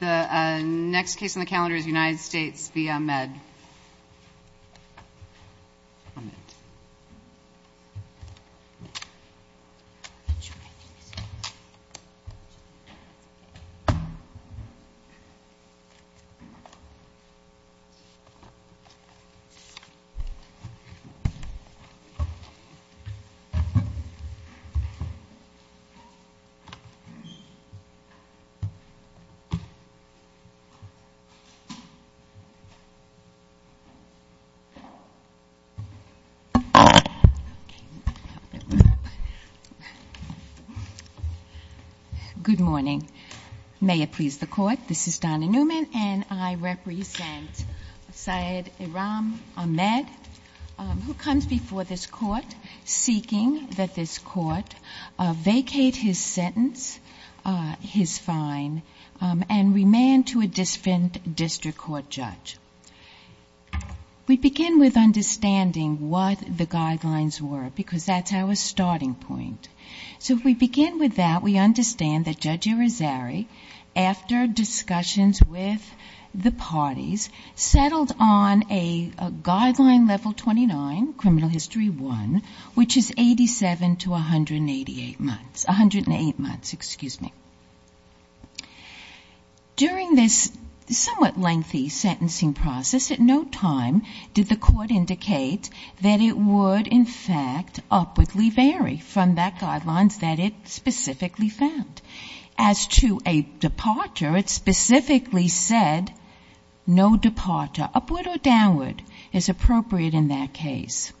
The next case on the calendar is United States v. Ahmed. Good morning. May it please the court, this is Donna Newman and I represent Syed Iram Ahmed who comes before this court seeking that this court vacate his sentence, his fine and remand to a district court judge. We begin with understanding what the guidelines were because that's our starting point. So if we begin with that, we understand that Judge Irizarry, after discussions with the parties, settled on a guideline level 29, criminal history one, which is 87 to 188 months, excuse me. During this somewhat lengthy sentencing process, at no time did the court indicate that it would in fact upwardly vary from that guidelines that it specifically found. As to a departure, it specifically said no departure, upward or downward, is appropriate in that case.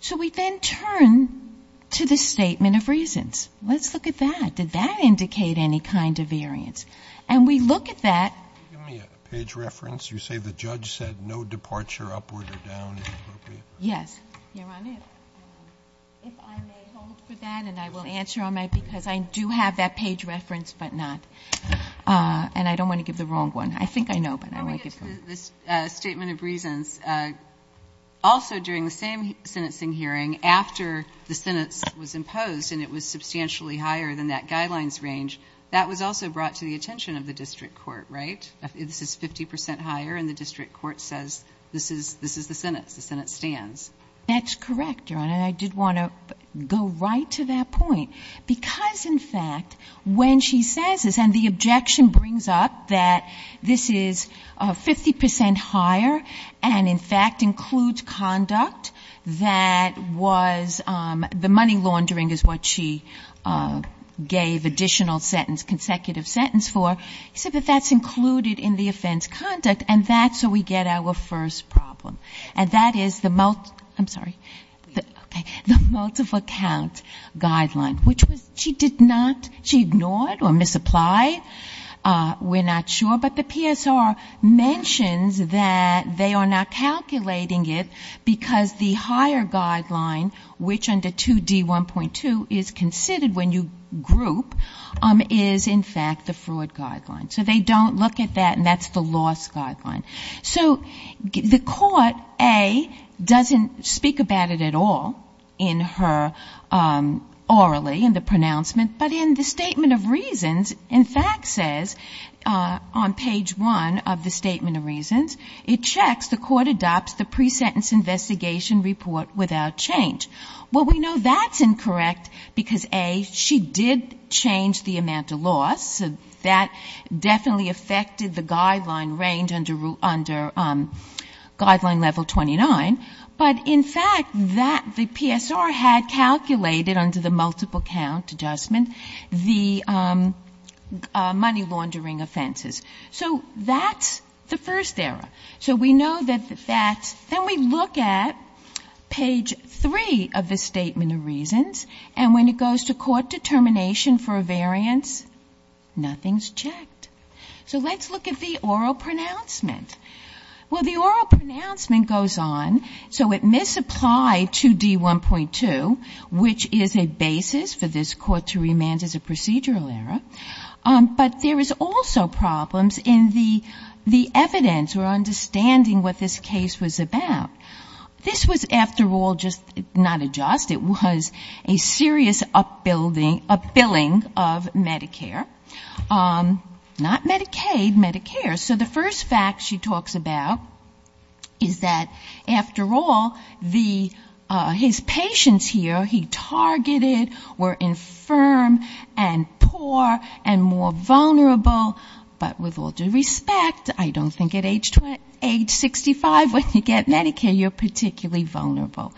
So we then turn to the statement of reasons. Let's look at that. Did that indicate any kind of variance? And we look at that. Can you give me a page reference? You say the judge said no departure, upward or downward is appropriate? Yes. Your Honor, if I may hold for that and I will answer on that because I do have that and I don't want to give the wrong one. I think I know, but I won't give it to you. Let me get to this statement of reasons. Also during the same sentencing hearing, after the sentence was imposed and it was substantially higher than that guidelines range, that was also brought to the attention of the district court, right? This is 50 percent higher and the district court says this is the sentence, the sentence stands. That's correct, Your Honor. I did want to go right to that point because in fact when she says this and the objection brings up that this is 50 percent higher and in fact includes conduct that was the money laundering is what she gave additional sentence, consecutive sentence for, she said that that's included in the offense conduct and that's where we get our first problem. And that is the multiple, I'm sorry, the multiple account guideline, which she did not, she ignored or misapplied, we're not sure, but the PSR mentions that they are not calculating it because the higher guideline, which under 2D1.2 is considered when you group, is in fact the fraud guideline. So they don't look at that and that's the loss guideline. So the court, A, doesn't speak about it at all in her orally, in the pronouncement, but in the statement of reasons, in fact says on page one of the statement of reasons, it checks the court adopts the pre-sentence investigation report without change. Well, we know that's incorrect because A, she did change the amount of loss. That definitely affected the guideline range under guideline level 29, but in fact that, the PSR had calculated under the multiple count adjustment, the money laundering offenses. So that's the first error. So we know that that's, then we look at page three of the statement of reasons and when it goes to court determination for a variance, nothing's checked. So let's look at the oral pronouncement. Well, the oral pronouncement goes on. So it misapplied 2D1.2, which is a basis for this court to remand as a procedural error. But there is also problems in the evidence or understanding what this case was about. This was, after all, just not a just. It was a serious upbilling of Medicare. Not Medicaid, Medicare. So the first fact she talks about is that after all, his patients here he targeted were infirm and poor and more vulnerable. But with all due respect, I don't think at age 65 when you get Medicare, you're particularly vulnerable.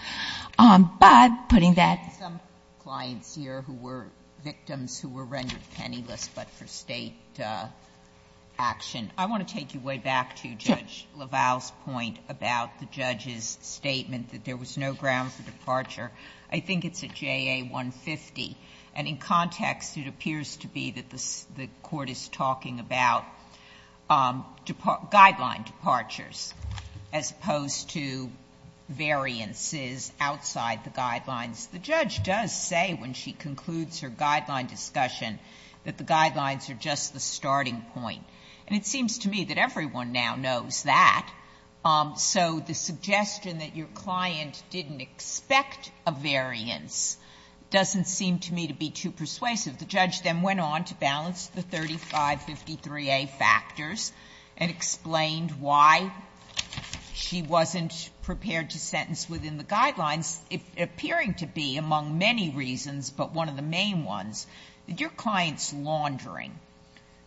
But putting that some clients here who were victims who were rendered penniless, but for state action. I want to take you way back to Judge LaValle's point about the judge's statement that there was no ground for departure. I think it's a JA-150. And in context, it appears to be that the court is talking about guideline departures as opposed to variances outside the guidelines The judge does say when she concludes her guideline discussion that the guidelines are just the starting point. And it seems to me that everyone now knows that. So the suggestion that your client didn't expect a variance doesn't seem to me to be too persuasive. The judge then went on to balance the 3553A factors and explained why she wasn't prepared to sentence within the guidelines, appearing to be among many reasons, but one of the main ones, that your client's laundering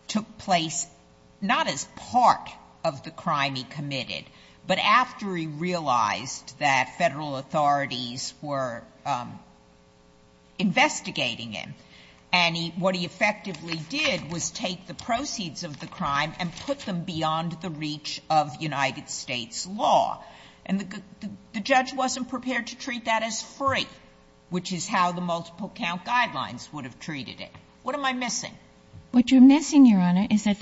took place not as part of the crime he committed, but after he realized that federal authorities were investigating him. And what he effectively did was take the proceeds of the crime and put them beyond the reach of United States law. And the judge wasn't prepared to treat that as free, which is how the multiple count guidelines would have treated it. What am I missing? What you're missing, Your Honor, is that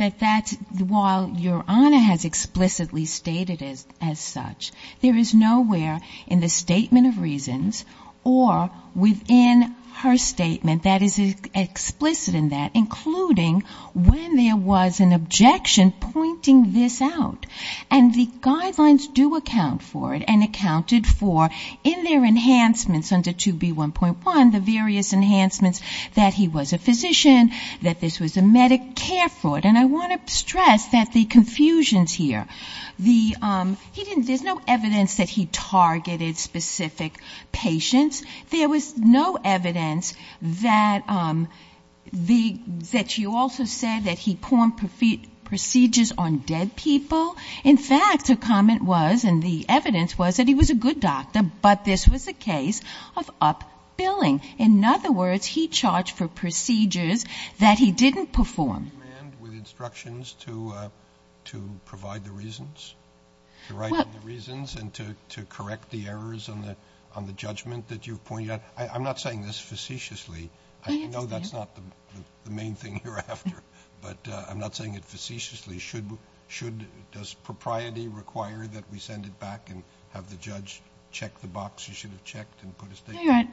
while Your Honor has explicitly stated it as such, there is nowhere in the statement of reasons or within her statement that is explicit in that, including when there was an objection pointing this out. And the guidelines do account for it and accounted for, in their enhancements under 2B1.1, the various enhancements that he was a physician, that this was a Medicare fraud. And I want to stress that the confusions here, there's no evidence that he targeted specific patients. There was no evidence that you also said that he performed procedures on dead people. In fact, her comment was, and the evidence was, that he was a good doctor, but this was a case of up-billing. In other words, he charged for procedures that he didn't perform. Do you demand with instructions to provide the reasons, to write the reasons and to correct the errors on the judgment that you've pointed out? I'm not saying this facetiously. I know that's not the main thing you're after, but I'm not saying it facetiously. Should, does propriety require that we send it back and have the judge check the box you should have checked and put a statement? No, Your Honor.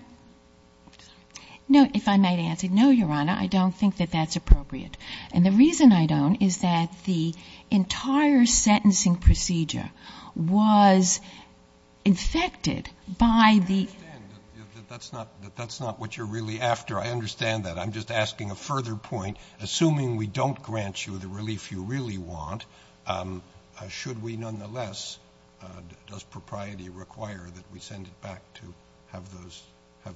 No, if I might answer. No, Your Honor, I don't think that that's appropriate. And the reason I don't is that the entire sentencing procedure was infected by the I understand that that's not what you're really after. I understand that. I'm just asking a further point. Assuming we don't grant you the relief you really want, should we nonetheless, does propriety require that we send it back to have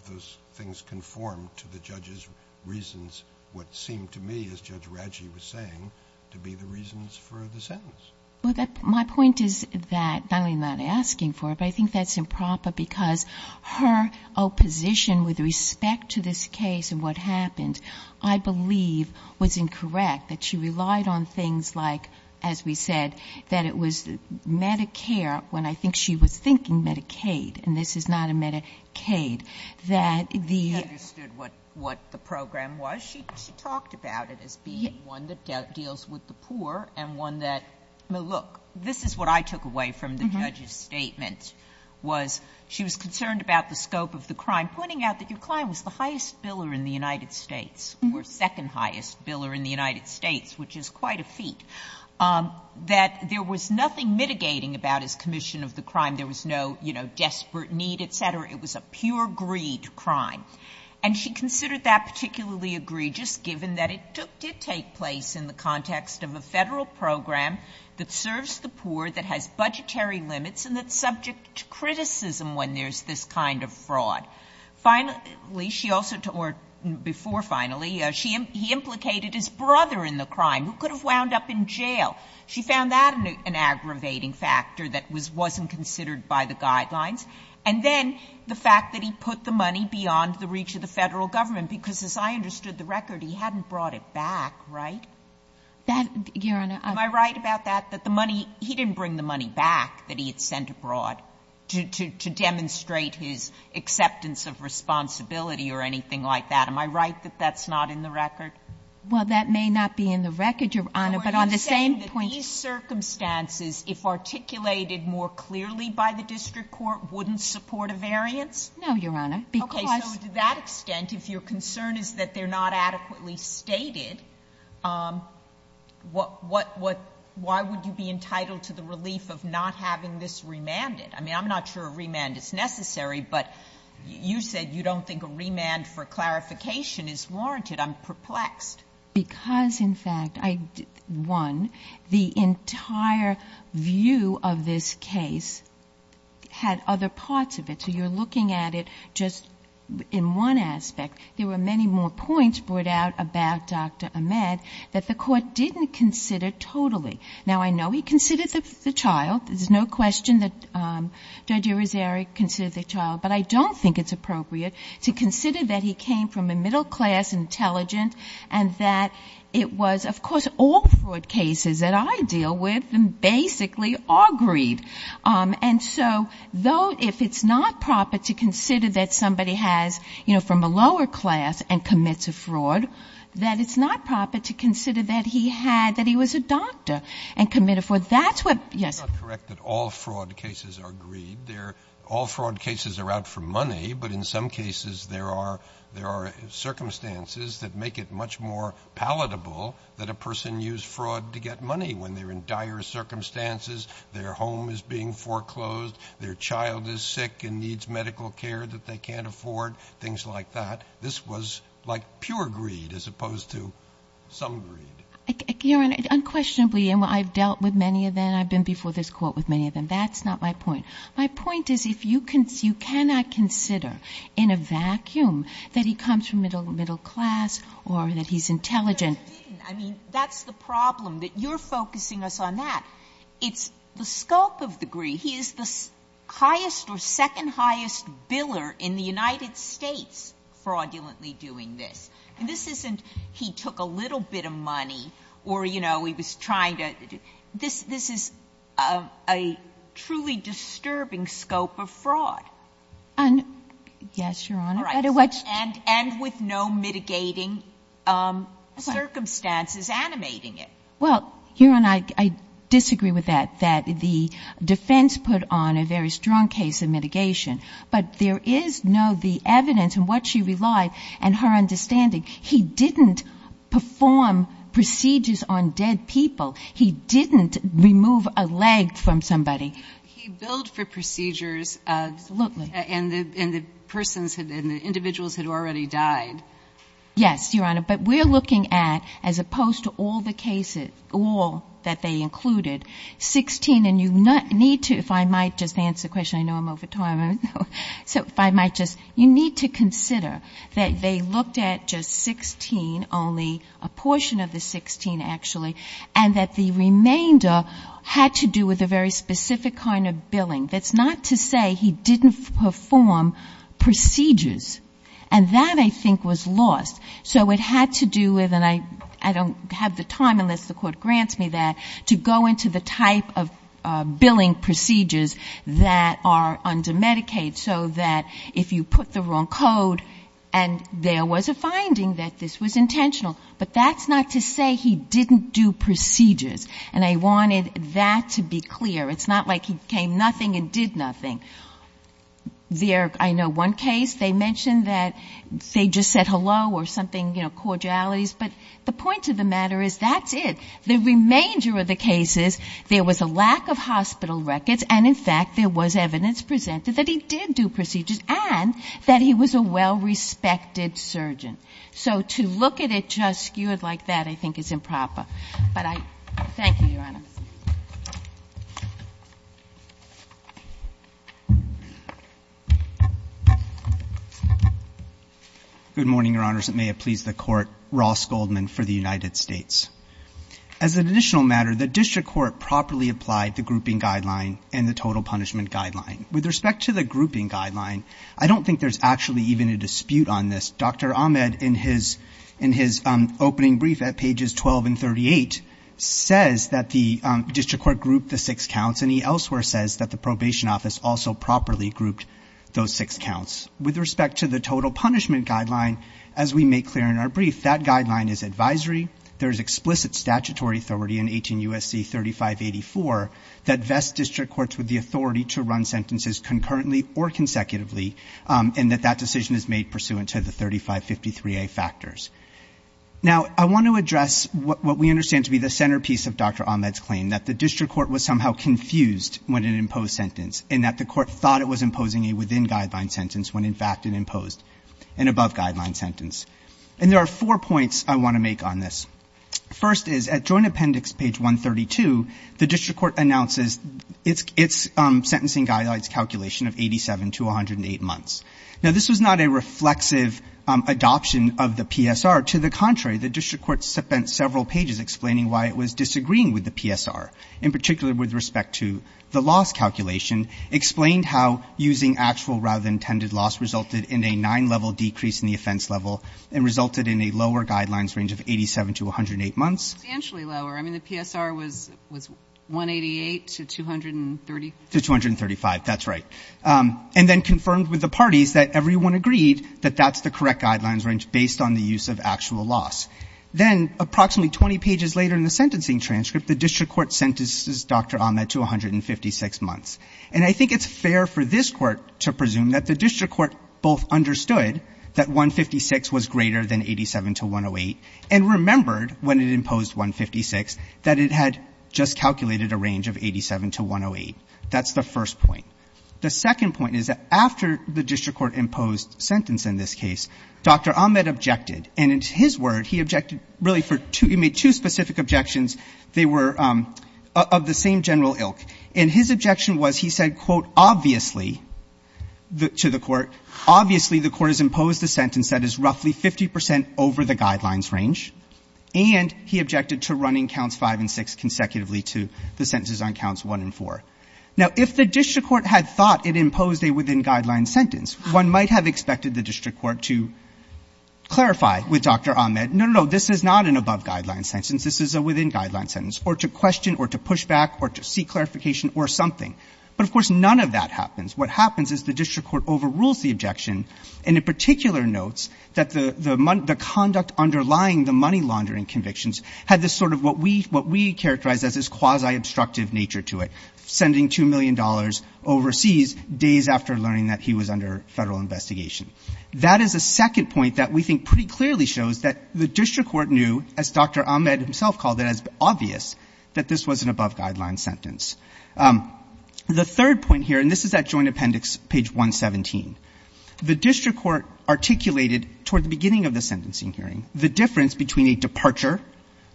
those things conform to the judge's reasons, what seemed to me, as Judge Raggi was saying, to be the reasons for the sentence? Well, my point is that, not only am I not asking for it, but I think that's improper because her opposition with respect to this case and what happened, I believe, was incorrect, that she relied on things like, as we said, that it was Medicare when I think she was thinking Medicaid, and this is not a Medicaid, that the... She understood what the program was. She talked about it as being one that deals with the poor and one that, look, this is what I took away from the judge's statement, was she was concerned about the scope of the crime, pointing out that your United States, which is quite a feat, that there was nothing mitigating about his commission of the crime. There was no desperate need, et cetera. It was a pure greed crime. And she considered that particularly egregious, given that it did take place in the context of a federal program that serves the poor, that has budgetary limits, and that's subject to criticism when there's this kind of fraud. Finally, she also... Or before finally, he implicated his brother in the crime, who could have wound up in jail. She found that an aggravating factor that wasn't considered by the guidelines. And then the fact that he put the money beyond the reach of the federal government, because as I understood the record, he hadn't brought it back, right? That... Your Honor, I'm... Am I right about that, that the money... He didn't bring the money back that he had sent abroad to demonstrate his acceptance of responsibility or anything like that? Am I right that that's not in the record? Well, that may not be in the record, Your Honor, but on the same point... Are you saying that these circumstances, if articulated more clearly by the district court, wouldn't support a variance? No, Your Honor, because... Okay. So to that extent, if your concern is that they're not adequately stated, why would you be entitled to the relief of not having this remanded? I mean, I'm not sure a remand is necessary, but you said you don't think a remand for clarification is warranted. I'm perplexed. Because in fact, I... One, the entire view of this case had other parts of it. So you're looking at just in one aspect. There were many more points brought out about Dr. Ahmed that the court didn't consider totally. Now, I know he considered the child. There's no question that Judge Rosari considered the child, but I don't think it's appropriate to consider that he came from a middle-class intelligent and that it was... Of course, all fraud cases that I deal with, basically, are greed. And so, though, if it's not proper to consider that somebody has, you know, from a lower class and commits a fraud, that it's not proper to consider that he had, that he was a doctor and committed fraud. That's what... It's not correct that all fraud cases are greed. All fraud cases are out for money, but in some cases, there are circumstances that make it much more palatable that a person use circumstances, their home is being foreclosed, their child is sick and needs medical care that they can't afford, things like that. This was like pure greed as opposed to some greed. Your Honor, unquestionably, and I've dealt with many of them, I've been before this court with many of them. That's not my point. My point is if you can... You cannot consider in a vacuum that he comes from middle class or that he's intelligent. I mean, that's the problem, that you're focusing us on that. It's the scope of the greed. He is the highest or second highest biller in the United States fraudulently doing this. This isn't he took a little bit of money or, you know, he was trying to... This is a truly disturbing scope of fraud. Yes, Your Honor. And with no mitigating circumstances animating it. Well, Your Honor, I disagree with that, that the defense put on a very strong case of mitigation, but there is no, the evidence and what she relied and her understanding, he didn't perform procedures on dead people. He didn't remove a leg from somebody. He billed for procedures and the persons and the individuals had already died. Yes, Your Honor. But we're looking at, as opposed to all the cases, all that they included, 16 and you need to, if I might just answer the question, I know I'm over time. So if I might just, you need to consider that they looked at just 16, only a portion of the 16 actually, and that the remainder had to do with a very specific kind of billing. That's not to say he didn't perform procedures. And that I think was lost. So it had to do with, and I don't have the time unless the court grants me that, to go into the type of billing procedures that are under Medicaid so that if you put the wrong code and there was a finding that this was intentional. But that's not to say he didn't do procedures. And I wanted that to be clear. It's not like he came nothing and did nothing. There, I know one case, they mentioned that they just said hello or something, you know, cordialities, but the point of the matter is that's it. The remainder of the cases, there was a lack of hospital records and, in fact, there was evidence presented that he did do procedures and that he was a well-respected surgeon. So to look at it just skewed like that, I think, is improper. But I, thank you, Your Honor. Good morning, Your Honors. It may have pleased the Court. Ross Goldman for the United States. As an additional matter, the district court properly applied the grouping guideline and the total punishment guideline. With respect to the grouping guideline, I don't think there's actually even a dispute on this. Dr. Ahmed, in his opening brief at pages 12 and 38, says that the district court grouped the six counts and he elsewhere says that the probation office also properly grouped those six counts. With respect to the total punishment guideline, as we make clear in our brief, that guideline is advisory. There's explicit statutory authority in 18 U.S.C. 3584 that vests district courts with the authority to run sentences concurrently or consecutively and that that decision is made pursuant to the 3553A factors. Now, I want to address what we understand to be the centerpiece of Dr. Ahmed's claim, that the district court was somehow confused when it imposed sentence and that the court thought it was imposing a within-guideline sentence when, in fact, it imposed an above-guideline sentence. And there are four points I want to make on this. First is, at joint appendix page 132, the district court announces its sentencing guidelines calculation of 87 to 108 months. Now, this was not a reflexive adoption of the PSR. To the contrary, the district court spent several pages explaining why it was disagreeing with the PSR, in particular with respect to the loss calculation, explained how using actual rather than intended loss resulted in a nine-level decrease in the offense level and resulted in a lower guidelines range of 87 to 108 months. It was substantially lower. I mean, the PSR was 188 to 230. To 235, that's right. And then confirmed with the parties that everyone agreed that that's the correct guidelines range based on the use of actual loss. Then, approximately 20 pages later in the sentencing transcript, the district court sentences Dr. Ahmed to 156 months. And I think it's fair for this Court to presume that the district court both understood that 156 was greater than 87 to 108 and remembered, when it imposed 156, that it had just calculated a range of 87 to 108. That's the first point. The second point is that after the district court imposed sentence in this case, Dr. Ahmed objected. And in his word, he objected really for two — he made two specific objections. They were of the same ilk. And his objection was he said, quote, obviously, to the Court, obviously, the Court has imposed a sentence that is roughly 50 percent over the guidelines range. And he objected to running counts 5 and 6 consecutively to the sentences on counts 1 and 4. Now, if the district court had thought it imposed a within-guidelines sentence, one might have expected the district court to clarify with Dr. Ahmed, no, no, no, this is not an above-guidelines sentence. This is a within-guidelines sentence. Or to question or to push back or to seek clarification or something. But, of course, none of that happens. What happens is the district court overrules the objection and, in particular, notes that the conduct underlying the money laundering convictions had this sort of what we — what we characterize as this quasi-obstructive nature to it, sending $2 million overseas days after learning that he was under federal investigation. That is a second point that we think pretty clearly shows that the district court knew, as Dr. Ahmed himself called it, as obvious, that this was an above-guidelines sentence. The third point here, and this is at Joint Appendix page 117, the district court articulated toward the beginning of the sentencing hearing the difference between a departure,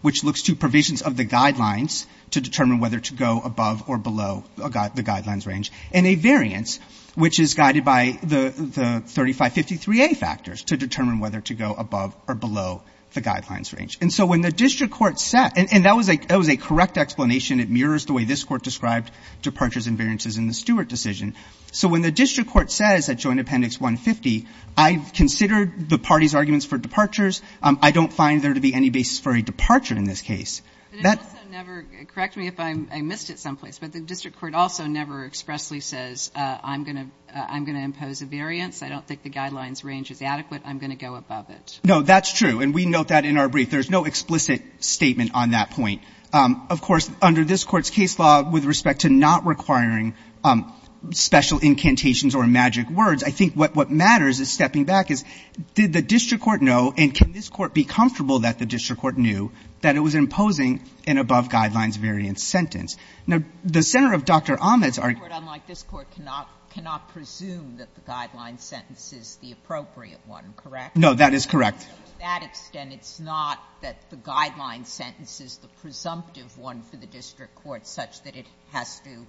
which looks to provisions of the guidelines to determine whether to go above or below the guidelines range, and a variance, which is guided by the 3553A factors to determine whether to go above or below the guidelines range. And so when the district court said — and that was a — that was a correct explanation. It mirrors the way this Court described departures and variances in the Stewart decision. So when the district court says at Joint Appendix 150, I've considered the party's arguments for departures. I don't find there to be any basis for a departure in this case. But it also never — correct me if I missed it someplace, but the district court also never expressly says, I'm going to — I'm going to impose a variance. I don't think the guidelines range is adequate. I'm going to go above it. No, that's true. And we note that in our brief. There's no explicit statement on that point. Of course, under this Court's case law, with respect to not requiring special incantations or magic words, I think what matters is stepping back is, did the district court know, and can this Court be comfortable that the district court knew, that it was imposing an above-guidelines-variance sentence? Now, the center of Dr. Ahmed's argument — Sotomayor, unlike this Court, cannot presume that the guideline sentence is the appropriate one, correct? No, that is correct. To that extent, it's not that the guideline sentence is the presumptive one for the district court, such that it has to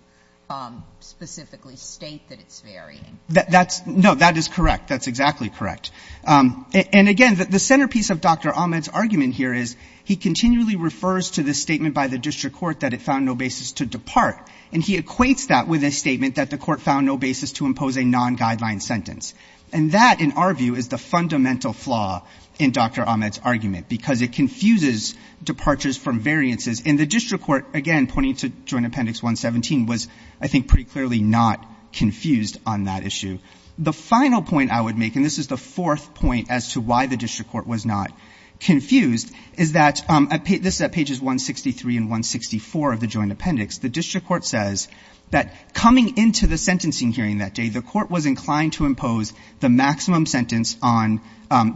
specifically state that it's varying? That's — no, that is correct. That's exactly correct. And again, the centerpiece of Dr. Ahmed's argument here is, he continually refers to this statement by the district court that it found no basis to depart. And he equates that with a statement that the court found no basis to impose a non-guideline sentence. And that, in our view, is the fundamental flaw in Dr. Ahmed's argument, because it confuses departures from variances. And the district court, again, pointing to Joint Appendix 117, was, I think, pretty clearly not confused on that issue. The final point I would make, and this is the fourth point as to why the district court was not confused, is that — this is at pages 163 and 164 of the Joint Appendix — the district court says that coming into the sentencing hearing that day, the court was inclined to impose the maximum sentence on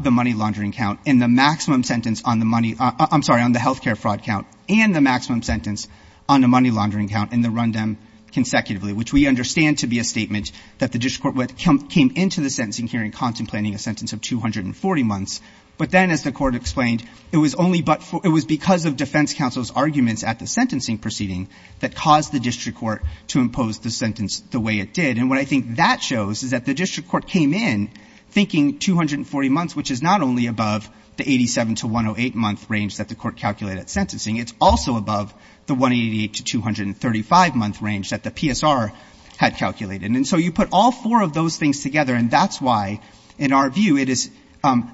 the money laundering count and the maximum sentence on the money — I'm sorry, on the health care fraud count and the maximum sentence on the money laundering count in the rundown consecutively, which we understand to be a statement that the district court came into the sentencing hearing contemplating a sentence of 240 months. But then, as the court explained, it was only — it was because of defense counsel's arguments at the sentencing proceeding that caused the district court to impose the sentence the way it did. And what I think that shows is that the district court came in thinking 240 months, which is not only above the 87 to 108-month range that the court calculated at sentencing. It's also above the 188 to 235-month range that the PSR had calculated. And so you put all four of those things together, and that's why, in our view, it is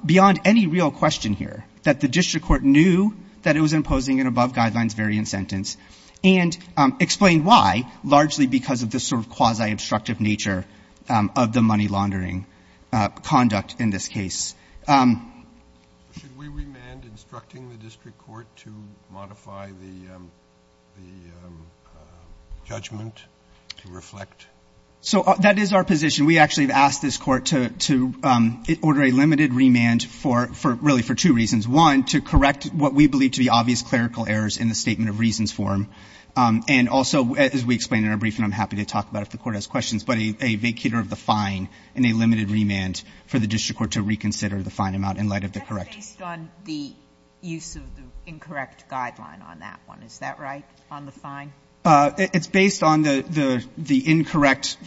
beyond any real question here that the district court knew that it was imposing an above-guidelines variant sentence and explained why, largely because of the sort of quasi-obstructive nature of the money laundering conduct in this case. Should we remand instructing the district court to modify the judgment to reflect? So that is our position. We actually have asked this court to order a limited remand for — really, for two reasons. One, to correct what we believe to be obvious clerical errors in the Statement of Reasons form. And also, as we explained in our briefing, I'm happy to talk about it if the Court has questions, but a vacater of the fine and a limited remand for the district court to reconsider the fine amount in light of the correct — Sotomayor. That's based on the use of the incorrect guideline on that one. Is that right, on the fine? It's based on the incorrect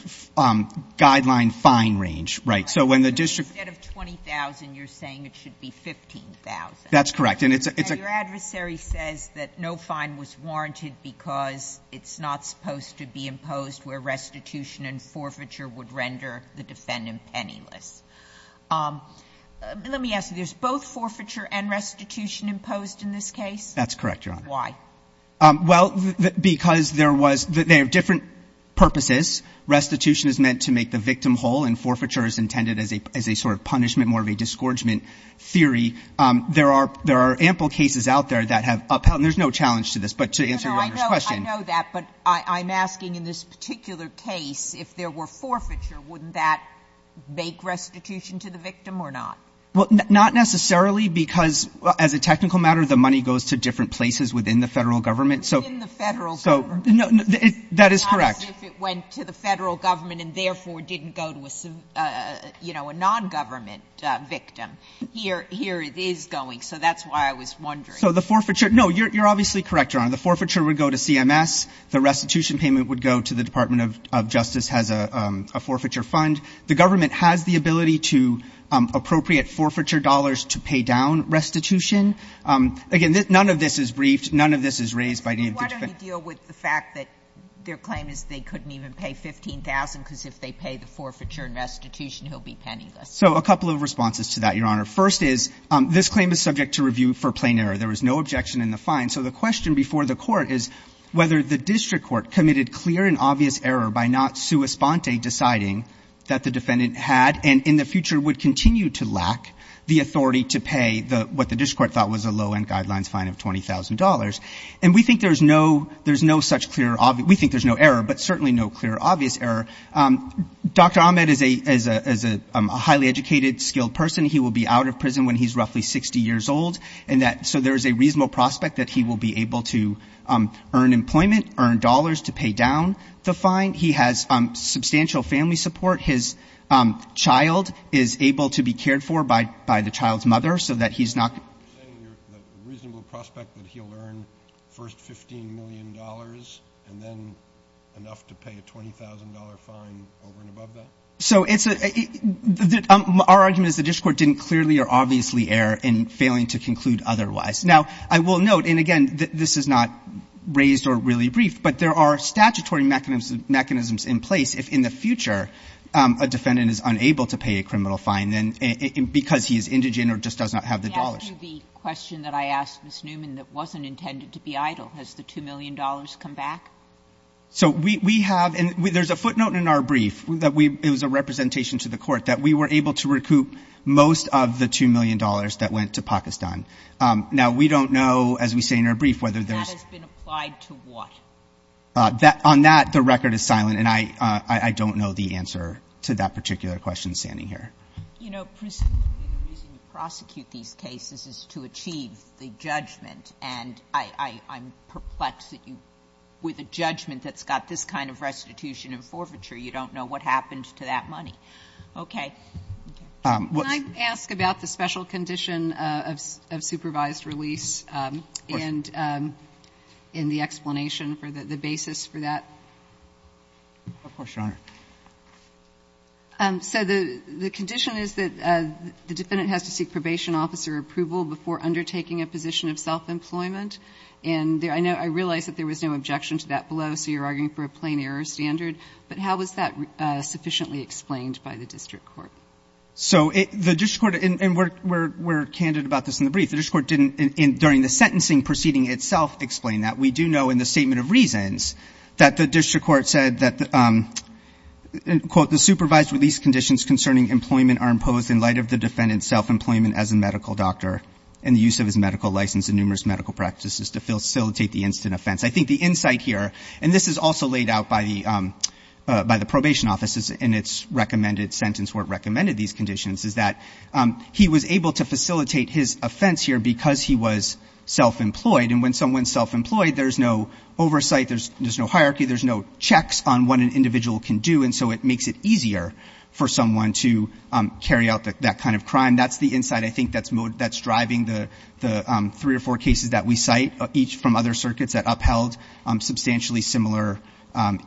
guideline fine range, right? So when the district — Instead of 20,000, you're saying it should be 15,000. That's correct. And it's a — Your adversary says that no fine was warranted because it's not supposed to be imposed where restitution and forfeiture would render the defendant penniless. Let me ask you, there's both forfeiture and restitution imposed in this case? That's correct, Your Honor. Why? Well, because there was — they have different purposes. Restitution is meant to make the victim whole, and forfeiture is intended as a sort of punishment, more of a disgorgement There are ample cases out there that have upheld — and there's no challenge to this, but to answer Your Honor's question. I know that, but I'm asking in this particular case, if there were forfeiture, wouldn't that make restitution to the victim or not? Well, not necessarily, because as a technical matter, the money goes to different places within the Federal government, so — Within the Federal government. So — no, that is correct. Not as if it went to the Federal government and therefore didn't go to a, you know, a nongovernment victim. Here it is going, so that's why I was wondering. So the forfeiture — no, you're obviously correct, Your Honor. The forfeiture would go to CMS. The restitution payment would go to the Department of Justice has a forfeiture fund. The government has the ability to appropriate forfeiture dollars to pay down restitution. Again, none of this is briefed. None of this is raised by any of the defendants. Why don't you deal with the fact that their claim is they couldn't even pay 15,000, because if they pay the forfeiture and restitution, he'll be penniless? So a couple of responses to that, Your Honor. First is, this claim is subject to review for plain error. There was no objection in the fine. So the question before the Court is whether the district court committed clear and obvious error by not sua sponte deciding that the defendant had and in the future would continue to lack the authority to pay the — what the district court thought was a low-end guidelines fine of $20,000. And we think there's no — there's no such clear — we think there's no such clear reason. Dr. Ahmed is a — is a highly educated, skilled person. He will be out of prison when he's roughly 60 years old. And that — so there is a reasonable prospect that he will be able to earn employment, earn dollars to pay down the fine. He has substantial family support. His child is able to be cared for by — by the child's mother, so that he's not — You're saying you're — that the reasonable prospect that he'll earn first $15 million and then enough to pay a $20,000 fine over and above that? So it's a — our argument is the district court didn't clearly or obviously err in failing to conclude otherwise. Now, I will note, and again, this is not raised or really brief, but there are statutory mechanisms — mechanisms in place if in the future a defendant is unable to pay a criminal fine, then — because he is indigent or just does not have the dollars. Can I ask you the question that I asked Ms. Newman that wasn't intended to be idle? Has the $2 million come back? So we — we have — and there's a footnote in our brief that we — it was a representation to the court that we were able to recoup most of the $2 million that went to Pakistan. Now, we don't know, as we say in our brief, whether there's — That has been applied to what? On that, the record is silent, and I — I don't know the answer to that particular question standing here. You know, presumably, the reason you prosecute these cases is to achieve the judgment, and I — I'm perplexed that you, with a judgment that's got this kind of restitution and forfeiture, you don't know what happened to that money. Okay. What's — Can I ask about the special condition of — of supervised release? Of course. And in the explanation for the basis for that? Of course, Your Honor. So the — the condition is that the defendant has to seek probation officer approval before undertaking a position of self-employment, and there — I know — I realize that there was no objection to that below, so you're arguing for a plain error standard, but how was that sufficiently explained by the district court? So it — the district court — and we're — we're — we're candid about this in the brief. The district court didn't, during the sentencing proceeding itself, explain that. We do know in the statement of reasons that the district court said that, quote, the supervised release conditions concerning employment are imposed in light of the use of his medical license and numerous medical practices to facilitate the instant offense. I think the insight here — and this is also laid out by the — by the probation officers in its recommended sentence, where it recommended these conditions, is that he was able to facilitate his offense here because he was self-employed. And when someone's self-employed, there's no oversight, there's — there's no hierarchy, there's no checks on what an individual can do, and so it makes it easier for someone to carry out that kind of crime. And that's the insight, I think, that's — that's driving the — the three or four cases that we cite, each from other circuits that upheld substantially similar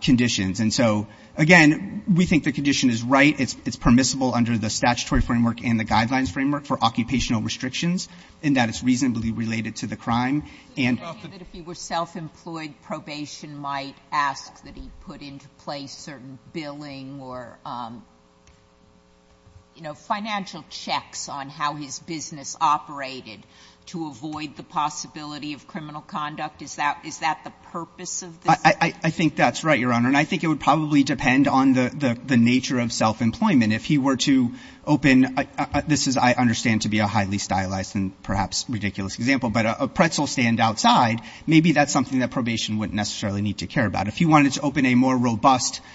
conditions. And so, again, we think the condition is right. It's permissible under the statutory framework and the guidelines framework for occupational restrictions, in that it's reasonably related to the crime, and — So you're saying that if he were self-employed, probation might ask that he put into place certain billing or, you know, financial checks on how his business operated to avoid the possibility of criminal conduct? Is that — is that the purpose of this? I — I think that's right, Your Honor. And I think it would probably depend on the — the nature of self-employment. If he were to open — this is, I understand, to be a highly stylized and perhaps ridiculous example, but a pretzel stand outside, maybe that's something that probation wouldn't necessarily need to care about. If he wanted to open a more robust —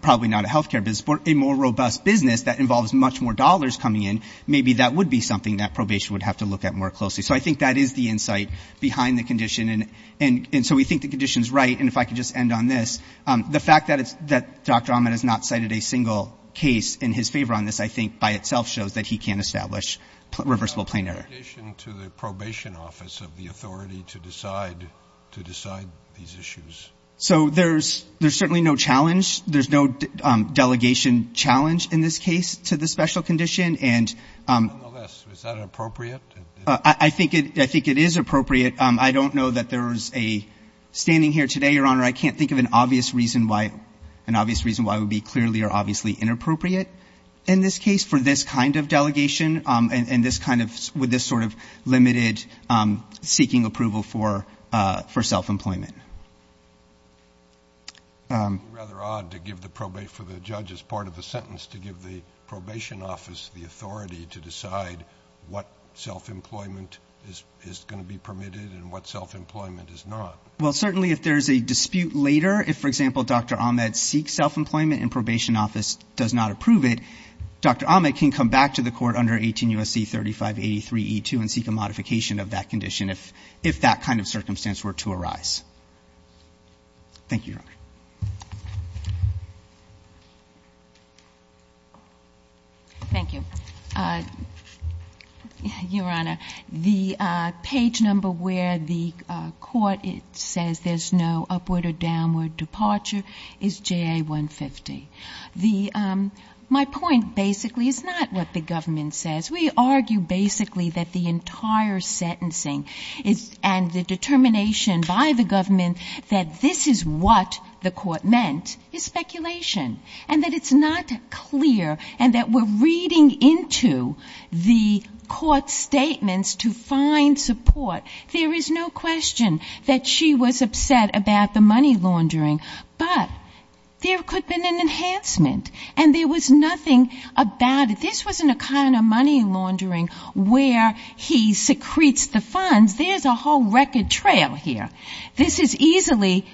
probably not a health care business, but a more robust business that involves much more dollars coming in, maybe that would be something that probation would have to look at more closely. So I think that is the insight behind the condition, and — and so we think the condition is right. And if I could just end on this, the fact that it's — that Dr. Ahmed has not cited a single case in his favor on this, I think, by itself shows that he can establish reversible plain error. Is there an obligation to the probation office of the authority to decide — to decide these issues? So there's — there's certainly no challenge. There's no delegation challenge in this case to the special condition. And — Nonetheless, is that appropriate? I think it — I think it is appropriate. I don't know that there's a — standing here today, Your Honor, I can't think of an obvious reason why — an obvious reason why it would be clearly or obviously inappropriate in this case for this kind of delegation and this kind of — with this sort of limited seeking approval for — for self-employment. It would be rather odd to give the probate — for the judge as part of the sentence to give the probation office the authority to decide what self-employment is — is going to be permitted and what self-employment is not. Well, certainly if there's a dispute later, if, for example, Dr. Ahmed seeks self-employment and probation office does not approve it, Dr. Ahmed can come back to the court under 18 U.S.C. 3583E2 and seek a modification of that condition if — if that kind of circumstance were to arise. Thank you, Your Honor. Thank you. Your Honor, the page number where the court says there's no upward or downward departure is JA-150. The — my point basically is not what the government says. We argue basically that the entire sentencing is — and the determination by the government that this is what the court meant is speculation and that it's not clear and that we're reading into the court's statements to find support. There is no question that she was upset about the money laundering, but there could have been an enhancement, and there was nothing about it. This was an account of money laundering where he secretes the funds. There's a whole record trail here. This is easily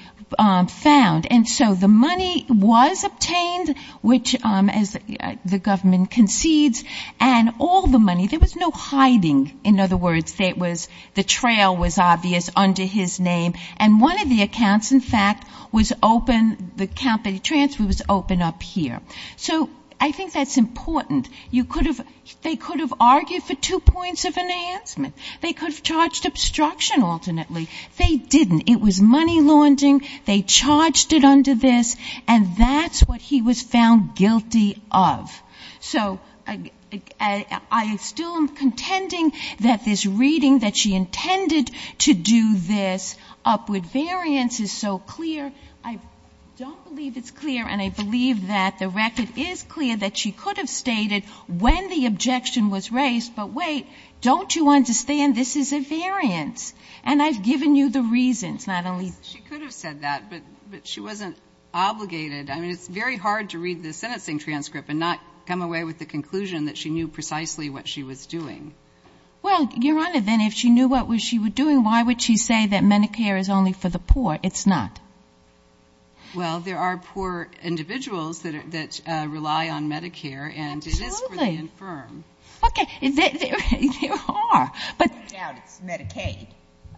found. And so the money was obtained, which, as the government concedes, and all the money — there was no hiding. In other words, there was — the trail was obvious under his name. And one of the accounts, in fact, was open — the account that he transferred was open up here. So I think that's important. You could have — they could have argued for two points of enhancement. They could have charged obstruction, ultimately. They didn't. It was money laundering. They charged it under this, and that's what he was found guilty of. So I still am contending that this reading that she intended to do this upward variance is so clear. I don't believe it's clear, and I believe that the record is clear that she could have stated when the objection was raised, but wait, don't you understand? This is a variance. And I've given you the reasons, not only — She could have said that, but she wasn't obligated — I mean, it's very hard to read the sentencing transcript and not come away with the conclusion that she knew precisely what she was doing. Well, Your Honor, then if she knew what she was doing, why would she say that Medicare is only for the poor? It's not. Well, there are poor individuals that rely on Medicare, and it is for the infirm. Absolutely. Okay. There are. But — No doubt it's Medicaid.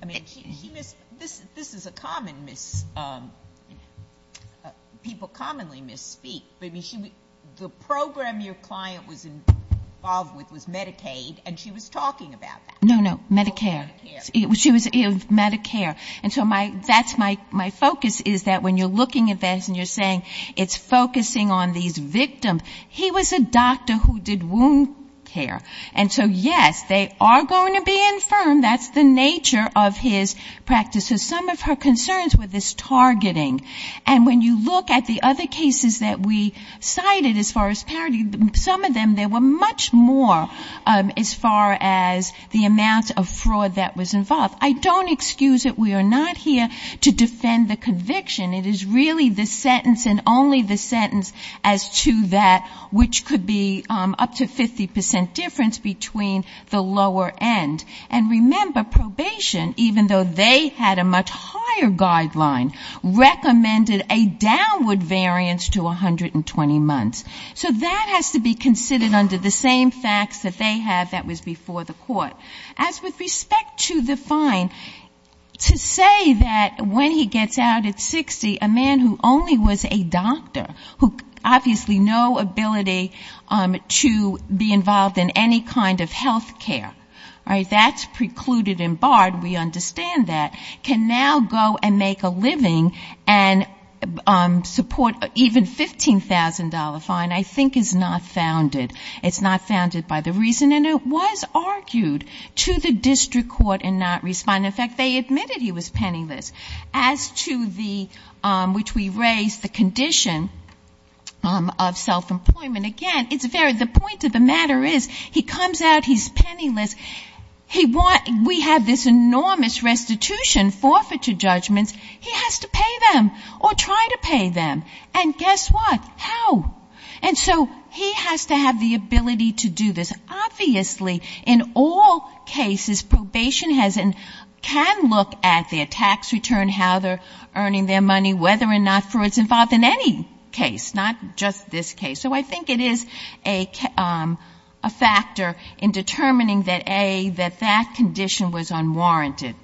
I mean, she mis — this is a common mis — people commonly misspeak. But I mean, she — the program your client was involved with was Medicaid, and she was talking about that. No, no. Medicare. She was — Medicare. And so my — that's my — my focus is that when you're looking at this and you're saying it's focusing on these victims, he was a doctor who did wound care. And so, yes, they are going to be infirm. That's the nature of his practice. So some of her concerns were this targeting. And when you look at the other cases that we cited as far as parity, some of them, there were much more as far as the amount of fraud that was involved. I don't excuse it. We are not here to defend the conviction. It is really the sentence and only the sentence as to that which could be up to 50 percent difference between the lower end. And remember, probation, even though they had a much higher guideline, recommended a downward variance to 120 months. So that has to be considered under the same facts that they have that was before the court. As with respect to the fine, to say that when he gets out at 60, a man who only was a doctor, who obviously no ability to be involved in any kind of health care. All right? That's precluded and barred. We understand that. Can now go and make a living and support even $15,000 fine I think is not founded. It's not founded by the reason. And it was argued to the district court and not respond. In fact, they admitted he was penniless. As to the, which we raised the condition of self-employment. Again, it's very, the point of the matter is he comes out, he's penniless. We have this enormous restitution, forfeiture judgments. He has to pay them or try to pay them. And guess what? How? And so he has to have the ability to do this. Obviously, in all cases, probation has and can look at their tax return, how they're earning their money, whether or not Freud's involved in any case, not just this case. So I think it is a factor in determining that, A, that that condition was unwarranted.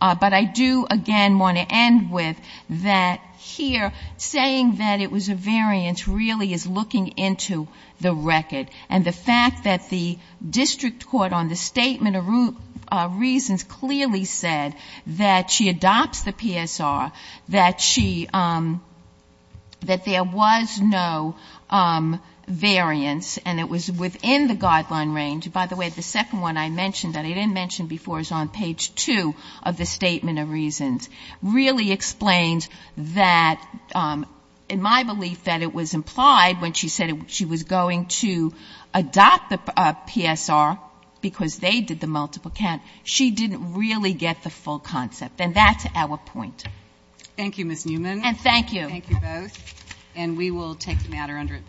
But I do, again, want to end with that here, saying that it was a variance, really is looking into the record. And the fact that the district court on the statement of reasons clearly said that she adopts the PSR, that she, that there was no variance, and it was within the guideline range. By the way, the second one I mentioned that I didn't mention before is on page two of the statement of reasons. Really explains that, in my belief, that it was implied when she said she was going to adopt the PSR because they did the multiple count. She didn't really get the full concept. And that's our point. Thank you, Ms. Newman. And thank you. Thank you both. And we will take the matter under advisory.